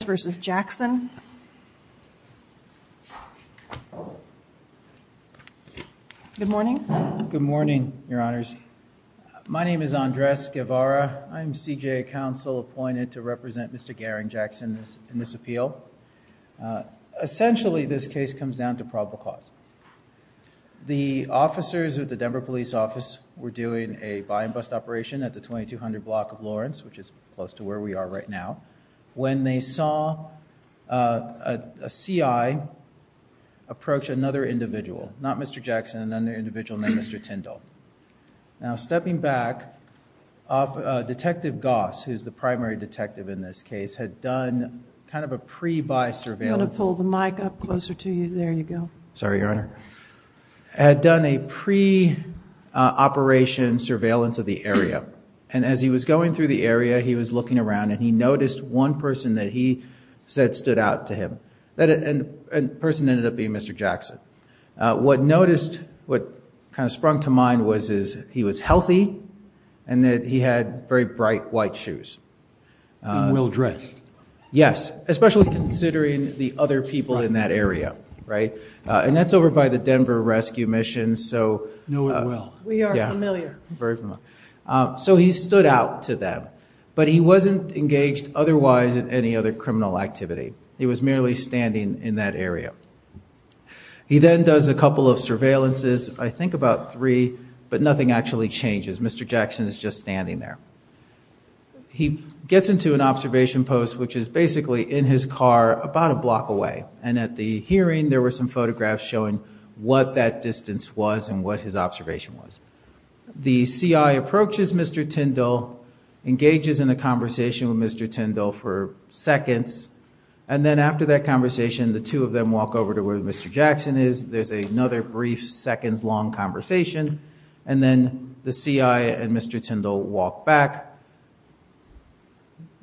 Good morning, your honors. My name is Andres Guevara. I'm CJA counsel appointed to represent Mr. Garring Jackson in this appeal. Essentially, this case comes down to probable cause. The officers at the Denver Police Office were doing a buy and bust operation at the 2200 block of Lawrence, which is close to where we are right now, when they saw a CI approach another individual, not Mr. Jackson, another individual named Mr. Tindall. Now, stepping back, Detective Goss, who's the primary detective in this case, had done kind of a pre-buy surveillance. I'm going to pull the mic up closer to you. There you go. Sorry, your honor. Had done a pre-operation surveillance of the area. And as he was going through the area, he was looking around and he noticed one person that he said stood out to him. That person ended up being Mr. Jackson. What noticed, what kind of sprung to mind was is he was healthy and that he had very bright white shoes. And well-dressed. Yes, especially considering the other people in that area, right? And that's over by the Denver Rescue Mission, so... Know it well. We are familiar. Very familiar. So he stood out to them, but he wasn't engaged otherwise in any other criminal activity. He was merely standing in that area. He then does a couple of surveillances, I think about three, but nothing actually changes. Mr. Jackson is just standing there. He gets into an observation post, which is basically in his car, about a block away. And at the hearing, there were some photographs showing what that distance was and what his observation was. The CI approaches Mr. Tindall, engages in a conversation with Mr. Tindall for seconds. And then after that conversation, the two of them walk over to where Mr. Jackson is. There's another brief seconds-long conversation. And then the CI and Mr. Tindall walk back.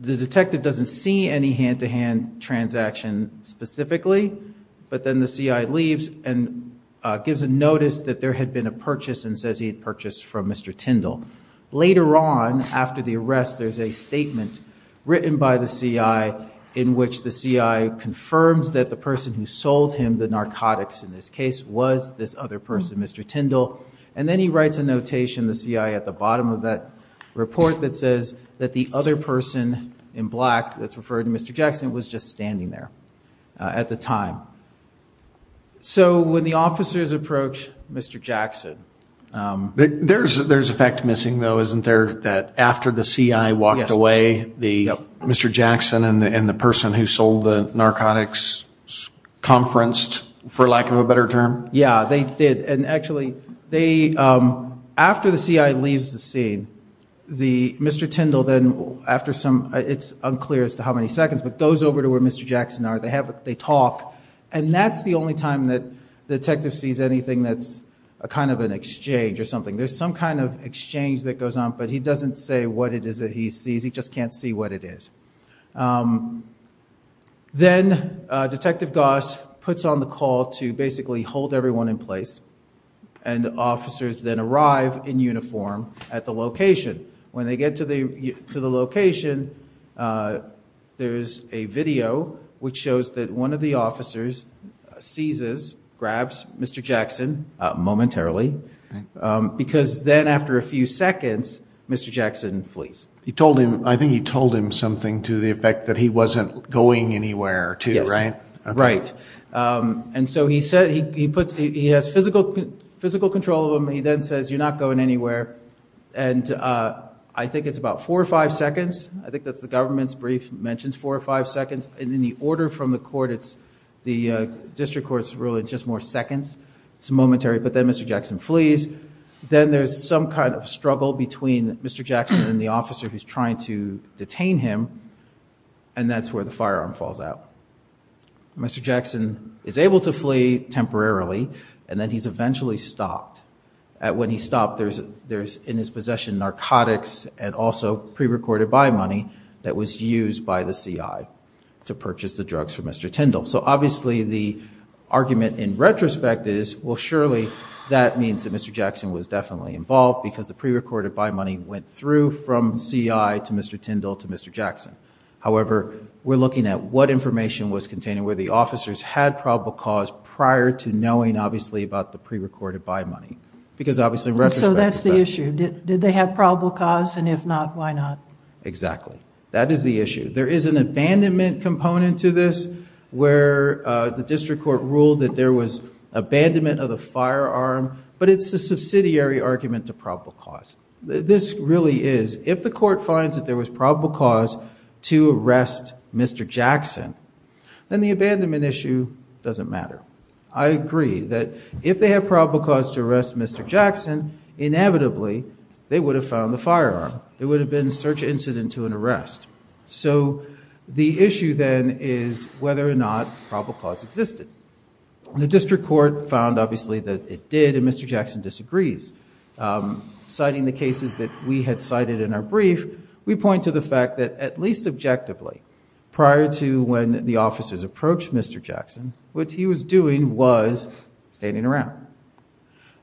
The detective doesn't see any hand-to-hand transaction specifically, but then the CI leaves and gives a notice that there had been a purchase and says he had purchased from Mr. Tindall. Later on, after the arrest, there's a statement written by the CI in which the CI confirms that the person who sold him the narcotics in this case was this other person, Mr. Tindall. And then he writes a notation, the CI, at the bottom of that report that says that the other person in black that's referred to as Mr. Jackson was just standing there at the time. So when the officers approach Mr. Jackson... There's a fact missing, though, isn't there, that after the CI walked away, Mr. Jackson and the person who sold the narcotics conferenced, for lack of a better term? Yeah, they did. And actually, after the CI leaves the scene, Mr. Tindall then, after some... It's unclear as to how many seconds, but goes over to where Mr. Jackson are. They talk. And that's the only time that the detective sees anything that's a kind of an exchange or something. There's some kind of exchange that goes on, but he doesn't say what it is that he sees. He just can't see what it is. Then Detective Goss puts on the call to basically hold everyone in place, and officers then arrive in uniform at the location. When they get to the location, there's a video which shows that one of the officers seizes, grabs Mr. Jackson momentarily, because then after a few seconds, Mr. Jackson flees. I think he told him something to the effect that he wasn't going anywhere, too, right? Yes. Right. And so he has physical control of him. He then says, you're not going anywhere. And I think it's about four or five seconds. I think that's the government's brief, mentions four or five seconds. And in the order from the court, it's the district court's rule, it's just more seconds. It's momentary. But then Mr. Jackson flees. Then there's some kind of struggle between Mr. Jackson and the officer who's trying to detain him, and that's where the firearm falls out. Mr. Jackson is able to flee temporarily, and then he's eventually stopped. When he's stopped, there's in his possession narcotics and also pre-recorded buy money that was used by the CI to purchase the drugs for Mr. Tindall. So obviously the argument in retrospect is, well, surely that means that Mr. Jackson was definitely involved because the pre-recorded buy money went through from CI to Mr. Tindall to Mr. Jackson. However, we're looking at what information was contained and where the officers had probable cause prior to knowing, obviously, about the pre-recorded buy money. Because obviously in retrospect... And so that's the issue. Did they have probable cause? And if not, why not? Exactly. That is the issue. There is an abandonment component to this where the district court ruled that there was abandonment of the firearm, but it's a subsidiary argument to probable cause. This really is, if the court finds that there was probable cause to arrest Mr. Jackson, then the abandonment issue doesn't matter. I agree that if they have probable cause to arrest Mr. Jackson, inevitably they would have found the firearm. It would have been search incident to an arrest. So the issue then is whether or not probable cause existed. The district court found obviously that it did, and Mr. Jackson disagrees. Citing the cases that we had cited in our brief, we point to the fact that at least objectively, prior to when the officers approached Mr. Jackson, what he was doing was standing around.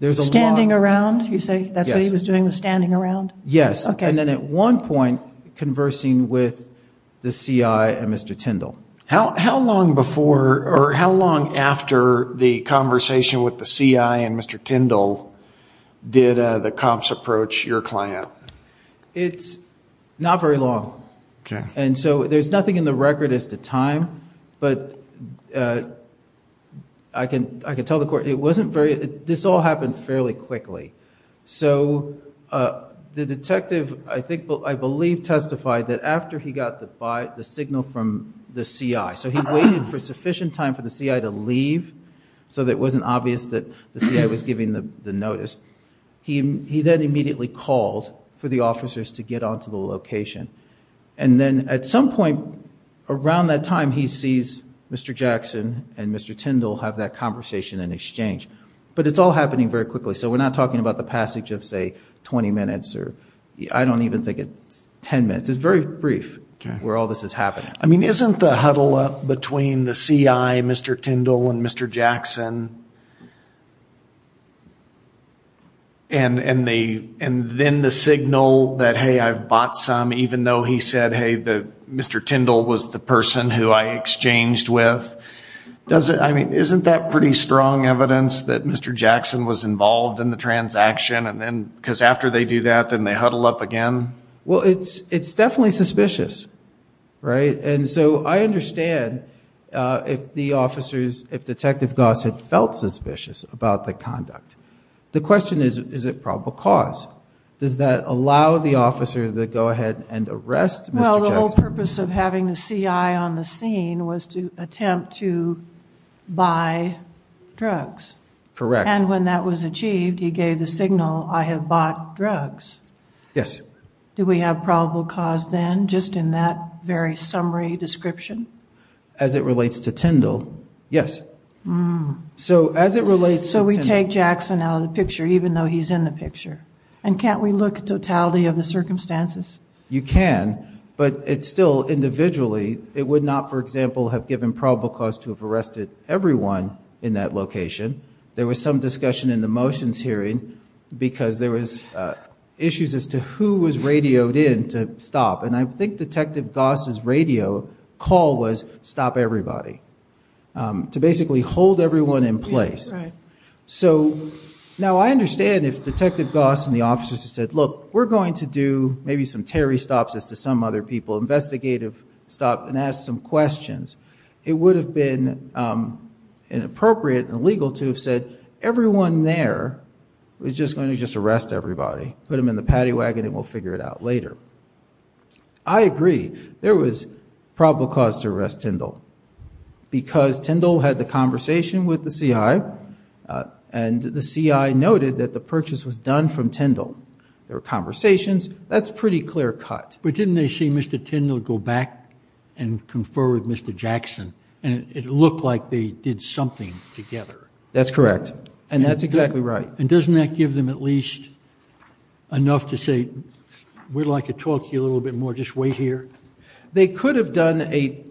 Standing around, you say? That's what he was doing, was standing around? Yes. And then at one point, conversing with the CI and Mr. Tindall. How long after the conversation with the CI and Mr. Tindall did the cops approach your client? It's not very long. There's nothing in the record as to time, but I can tell the court this all happened fairly quickly. The detective, I believe, testified that after he got the signal from the CI, so he waited for sufficient time for the CI to leave so that it wasn't obvious that the CI was giving the notice. He then immediately called for the officers to get onto the location. And then at some point around that time, he sees Mr. Jackson and Mr. Tindall have that conversation and exchange. But it's all happening very quickly, so we're not talking about the passage of, say, 20 minutes or I don't even think it's 10 minutes. It's very brief where all this is happening. I mean, isn't the huddle up between the CI, Mr. Tindall, and Mr. Jackson, and then the signal that, hey, I've bought some even though he said, hey, Mr. Tindall was the person who I exchanged with, isn't that pretty strong evidence that Mr. Jackson was involved in the transaction? Because after they do that, then they huddle up again? Well, it's definitely suspicious, right? And so I understand if the officers, if Detective Gosset felt suspicious about the conduct. The question is, is it probable cause? Does that allow the officer to go ahead and arrest Mr. Jackson? Well, the whole purpose of having the CI on the scene was to attempt to buy drugs. Correct. And when that was achieved, he gave the signal, I have bought drugs. Yes. Do we have probable cause then, just in that very summary description? As it relates to Tindall, yes. So we take Jackson out of the picture, even though he's in the picture. And can't we look at totality of the circumstances? You can, but it's still individually, it would not, for example, have given probable cause to have arrested everyone in that location. There was some discussion in the motions hearing because there was issues as to who was radioed in to stop. And I think Detective Gosset's radio call was stop everybody, to basically hold everyone in place. So now I understand if Detective Gosset and the officers said, look, we're going to do maybe some Terry stops as to some other people, investigative stop and ask some questions. It would have been inappropriate and illegal to have said, everyone there, we're just going to just arrest everybody, put them in the paddy wagon and we'll figure it out later. I agree. There was probable cause to arrest Tindall because Tindall had the conversation with the CI and the CI noted that the purchase was done from Tindall. There were conversations. That's pretty clear cut. But didn't they see Mr. Tindall go back and confer with Mr. Jackson? And it looked like they did something together. That's correct. And that's exactly right. And doesn't that give them at least enough to say, we'd like to talk to you a little bit more, just wait here. They could have done a,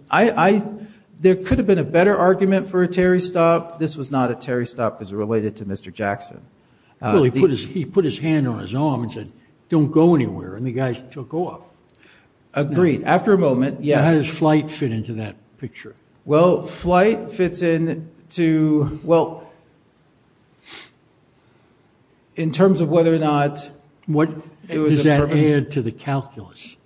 there could have been a better argument for a Terry stop. This was not a Terry stop as it related to Mr. Jackson. He put his hand on his arm and said, don't go anywhere. And the guys took off. Agreed. After a moment, yes. How does flight fit into that picture? In terms of whether or not... What does that add to the calculus?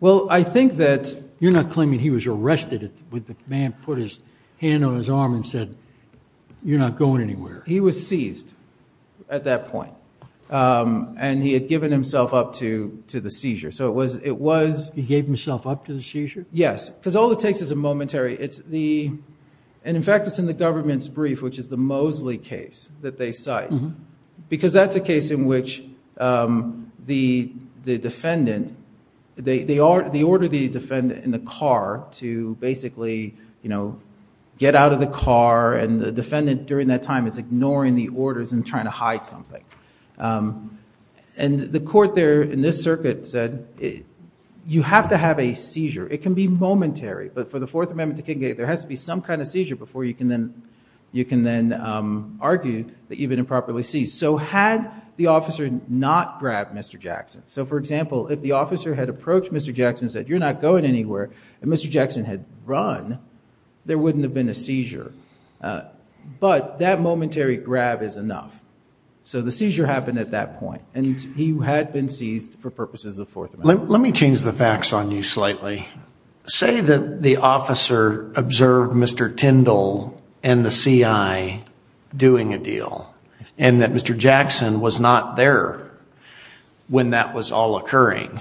Well, I think that... You're not claiming he was arrested with the man put his hand on his arm and said, you're not going anywhere. He was seized at that point. And he had given himself up to the seizure. So it was... He gave himself up to the seizure? Yes. Because all it takes is a momentary. And in fact, it's in the government's brief, which is the Mosley case that they cite. Because that's a case in which the defendant, they order the defendant in the car to basically get out of the car. And the defendant during that time is ignoring the orders and trying to hide something. And the court there in this circuit said, you have to have a seizure. It can be momentary. But for the Fourth Amendment to Kincaid, there has to be some kind of seizure before you can then argue that you've been seized. If the officer had not grabbed Mr. Jackson. So for example, if the officer had approached Mr. Jackson and said, you're not going anywhere, and Mr. Jackson had run, there wouldn't have been a seizure. But that momentary grab is enough. So the seizure happened at that point. And he had been seized for purposes of Fourth Amendment. Let me change the facts on you slightly. Say that the officer observed Mr. Tyndall and the CI doing a deal. And that Mr. Jackson was not there when that was all occurring.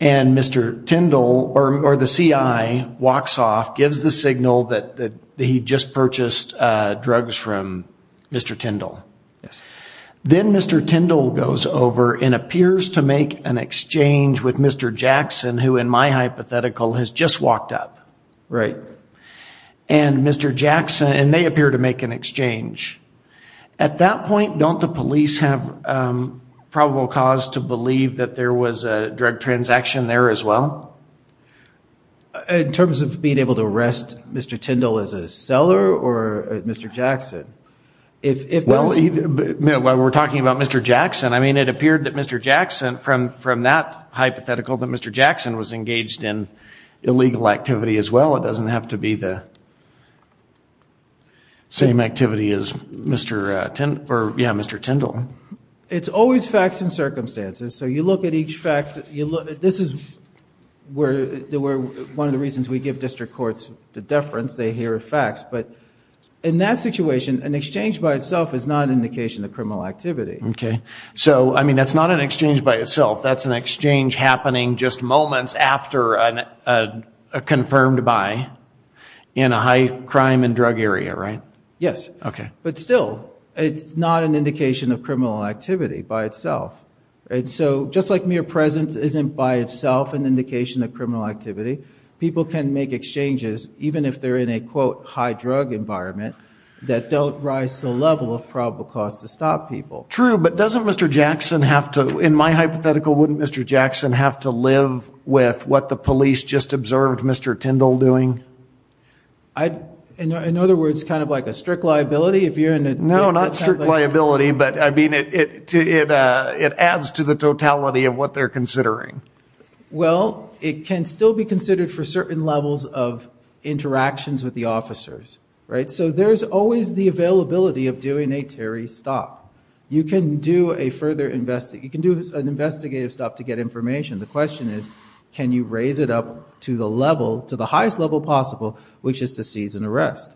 And Mr. Tyndall or the CI walks off, gives the signal that he just purchased drugs from Mr. Tyndall. Then Mr. Tyndall goes over and appears to make an exchange with Mr. Jackson, who in my hypothetical has just walked up. Right. And Mr. Jackson, and they appear to make an exchange. At that point, don't the police have probable cause to believe that there was a drug transaction there as well? In terms of being able to arrest Mr. Tyndall as a seller or Mr. Jackson? We're talking about Mr. Jackson. I mean, it appeared that Mr. Jackson, from that hypothetical, that Mr. Jackson was engaged in does not have to be the same activity as Mr. Tyndall. It's always facts and circumstances. So you look at each fact. One of the reasons we give district courts the deference, they hear facts. But in that situation, an exchange by itself is not an indication of criminal activity. Okay. So, I mean, that's not an exchange by itself. That's an exchange happening just moments after a confirmed buy. In a high crime and drug area, right? Yes. But still, it's not an indication of criminal activity by itself. So just like mere presence isn't by itself an indication of criminal activity, people can make exchanges, even if they're in a quote, high drug environment, that don't rise to the level of probable cause to stop people. True, but doesn't Mr. Jackson have to, in my hypothetical, wouldn't Mr. Jackson have to live with what the police just observed Mr. Tyndall doing? In other words, kind of like a strict liability? No, not strict liability, but I mean, it adds to the totality of what they're considering. Well, it can still be considered for certain levels of interactions with the officers, right? So there's always the availability of doing a Terry stop. You can do an investigative stop to get information. The question is, can you raise it up to the level, the highest level possible, which is to seize and arrest?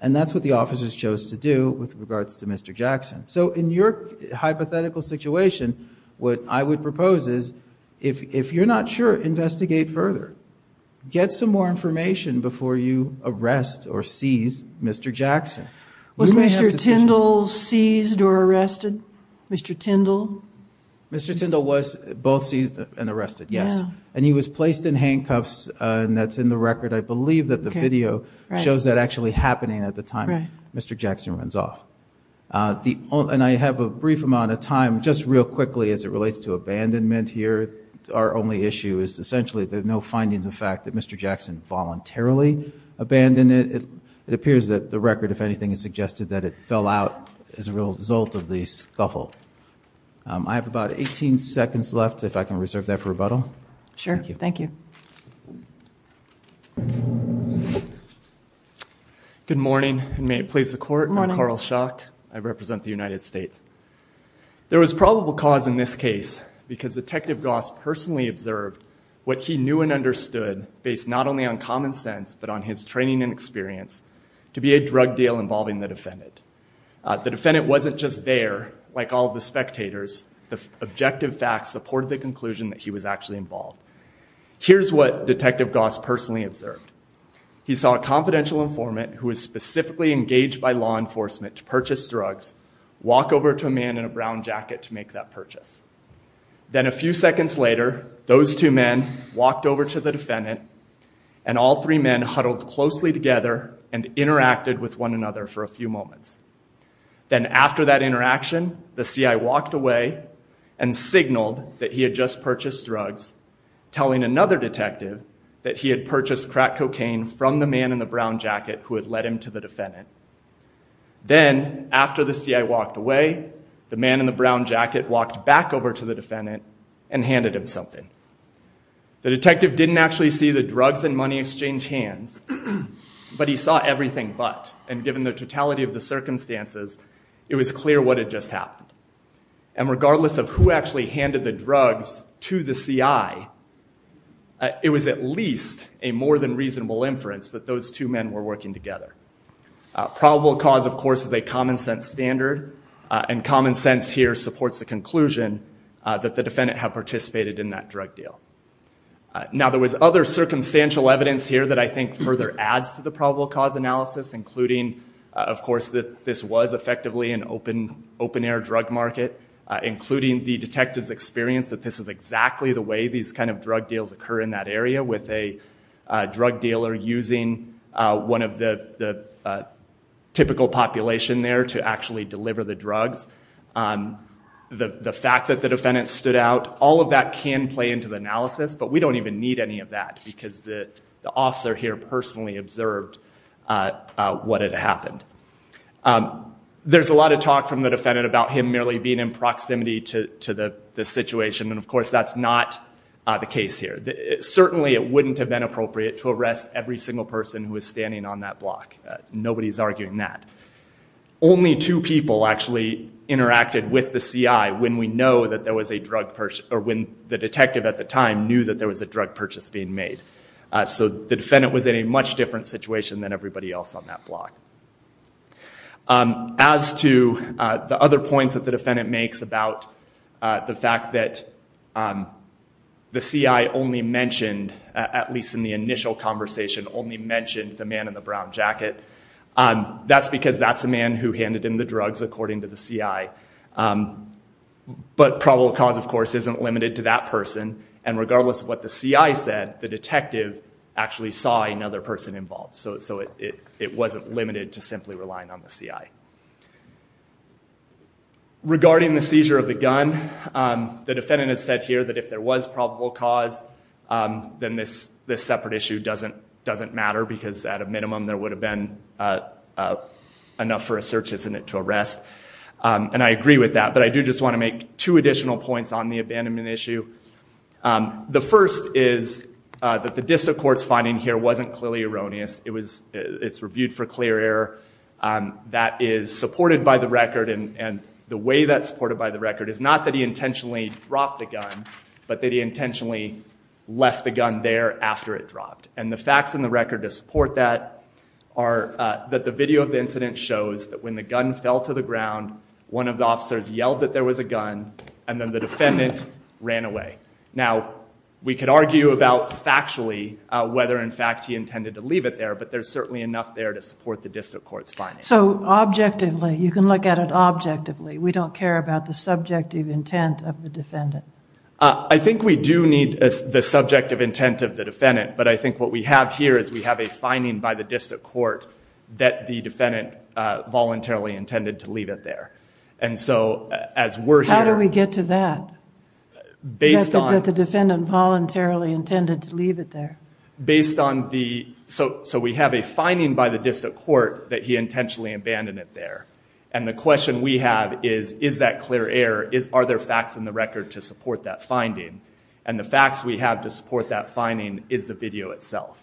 And that's what the officers chose to do with regards to Mr. Jackson. So in your hypothetical situation, what I would propose is, if you're not sure, investigate further. Get some more information before you arrest or seize Mr. Jackson. Was Mr. Tyndall seized or arrested? Mr. Tyndall? Mr. Tyndall was both seized and arrested, yes. And he was placed in handcuffs, and that's in the record. I believe that the video shows that actually happening at the time Mr. Jackson runs off. And I have a brief amount of time, just real quickly, as it relates to abandonment here. Our only issue is essentially there's no findings of fact that Mr. Jackson voluntarily abandoned it. It appears that the record, if anything, has suggested that it fell out as a result of the scuffle. I have about 18 seconds left, if I can reserve that for rebuttal. Sure, thank you. Good morning, and may it please the Court, I'm Carl Schock. I represent the United States. There was probable cause in this case, because Detective Goss personally observed what he knew and understood, based not only on common sense, but on his training and experience, to be a drug deal involving the defendant. The defendant wasn't just there, like all of the spectators. The objective facts supported the conclusion that he was actually involved. Here's what Detective Goss personally observed. He saw a confidential informant who was specifically engaged by law enforcement to purchase drugs walk over to a man in a brown jacket to make that purchase. Then a few seconds later, those two men walked over to the defendant, and all three men huddled closely together and interacted with one another for a few moments. Then after that interaction, the CI walked away and signaled that he had just purchased drugs, telling another detective that he had purchased crack cocaine from the man in the brown jacket who had led him to the defendant. Then, after the CI walked away, the man in the brown jacket walked back over to the defendant and handed him something. The detective didn't actually see the drugs and money exchange hands, but he saw everything but. And given the totality of the circumstances, it was clear what had just happened. And regardless of who actually handed the drugs to the CI, it was at least a more than reasonable inference that those two men were working together. Probable cause, of course, is a common sense standard, and common sense here supports the conclusion that the defendant had participated in that drug deal. Now, there was other circumstantial evidence here that I think further adds to the probable cause analysis, including, of course, that this was effectively an open-air drug market, including the detective's experience that this is exactly the way these kind of drug deals occur in that area, with a drug dealer using one of the typical population there to actually deliver the drugs. The fact that the defendant stood out, all of that can play into the analysis, but we don't even need any of that because the officer here personally observed what had happened. There's a lot of talk from the defendant about him merely being in proximity to the situation, and of course that's not the case here. Certainly it wouldn't have been appropriate to arrest every single person who was standing on that block. Nobody's arguing that. Only two people actually interacted with the CI when the detective at the time knew that there was a drug purchase being made. So the defendant was in a much different situation than everybody else on that block. As to the other point that the defendant makes about the fact that the CI only mentioned, at least in the initial conversation, only mentioned the man in the brown jacket, that's because that's the man who handed him the drugs, according to the CI. But probable cause, of course, isn't limited to that person, and regardless of what the CI said, the detective actually saw another person involved, so it wasn't limited to simply relying on the CI. Regarding the seizure of the gun, the defendant has said here that if there was probable cause, then this separate issue doesn't matter, because at a minimum there would have been enough for a search, isn't it, to arrest. And I agree with that, but I do just want to make two additional points on the abandonment issue. The first is that the district court's finding here wasn't clearly erroneous. It's reviewed for clear error. That is supported by the record, and the way that's supported by the record is not that he intentionally dropped the gun, but that he intentionally left the gun there after it dropped. And the facts in the record to support that are that the video of the incident shows that when the gun fell to the ground, one of the officers yelled that there was a gun, and then the defendant ran away. Now, we could argue about factually whether, in fact, he intended to leave it there, but there's certainly enough there to support the district court's finding. So objectively, you can look at it objectively. We don't care about the subjective intent of the defendant. I think we do need the subjective intent of the defendant, but I think what we have here is we have a finding by the district court that the defendant voluntarily intended to leave it there. How do we get to that, that the defendant voluntarily intended to leave it there? So we have a finding by the district court that he intentionally abandoned it there, and the question we have is, is that clear error? Are there facts in the record to support that finding? And the facts we have to support that finding is the video itself,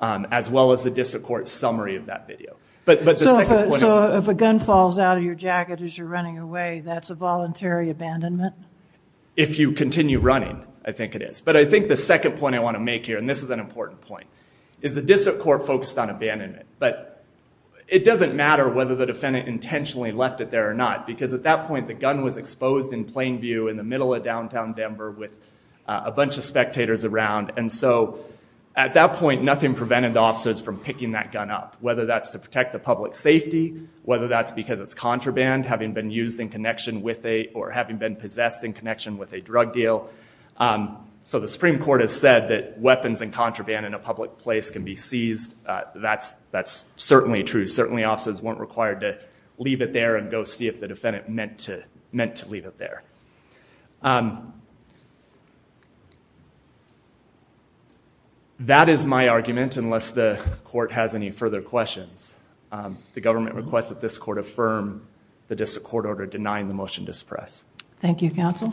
as well as the district court's summary of that video. So if a gun falls out of your jacket as you're running away, that's a voluntary abandonment? If you continue running, I think it is. But I think the second point I want to make here, and this is an important point, is the district court focused on abandonment. But it doesn't matter whether the defendant intentionally left it there or not, because at that point, the gun was exposed in plain view in the middle of downtown Denver with a bunch of spectators around. And so at that point, nothing prevented the officers from picking that gun up, whether that's to protect the public safety, whether that's because it's contraband, having been possessed in connection with a drug deal. So the Supreme Court has said that weapons and contraband in a public place can be seized. That's certainly true. Certainly officers weren't required to leave it there and go see if the defendant meant to leave it there. That is my argument, unless the court has any further questions. The government requests that this court affirm the district court order denying the motion to suppress. Thank you, counsel.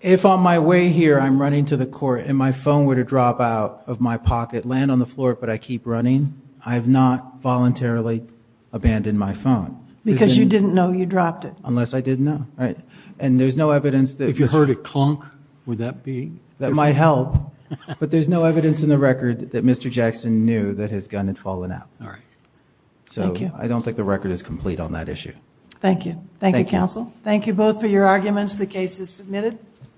If on my way here I'm running to the court and my phone were to drop out of my pocket, land on the floor, but I keep running, I have not voluntarily abandoned my phone. Because you didn't know you dropped it. Unless I did know. If you heard it clunk, would that be? That might help, but there's no evidence in the record that Mr. Jackson knew that his gun had fallen out. So I don't think the record is complete on that issue.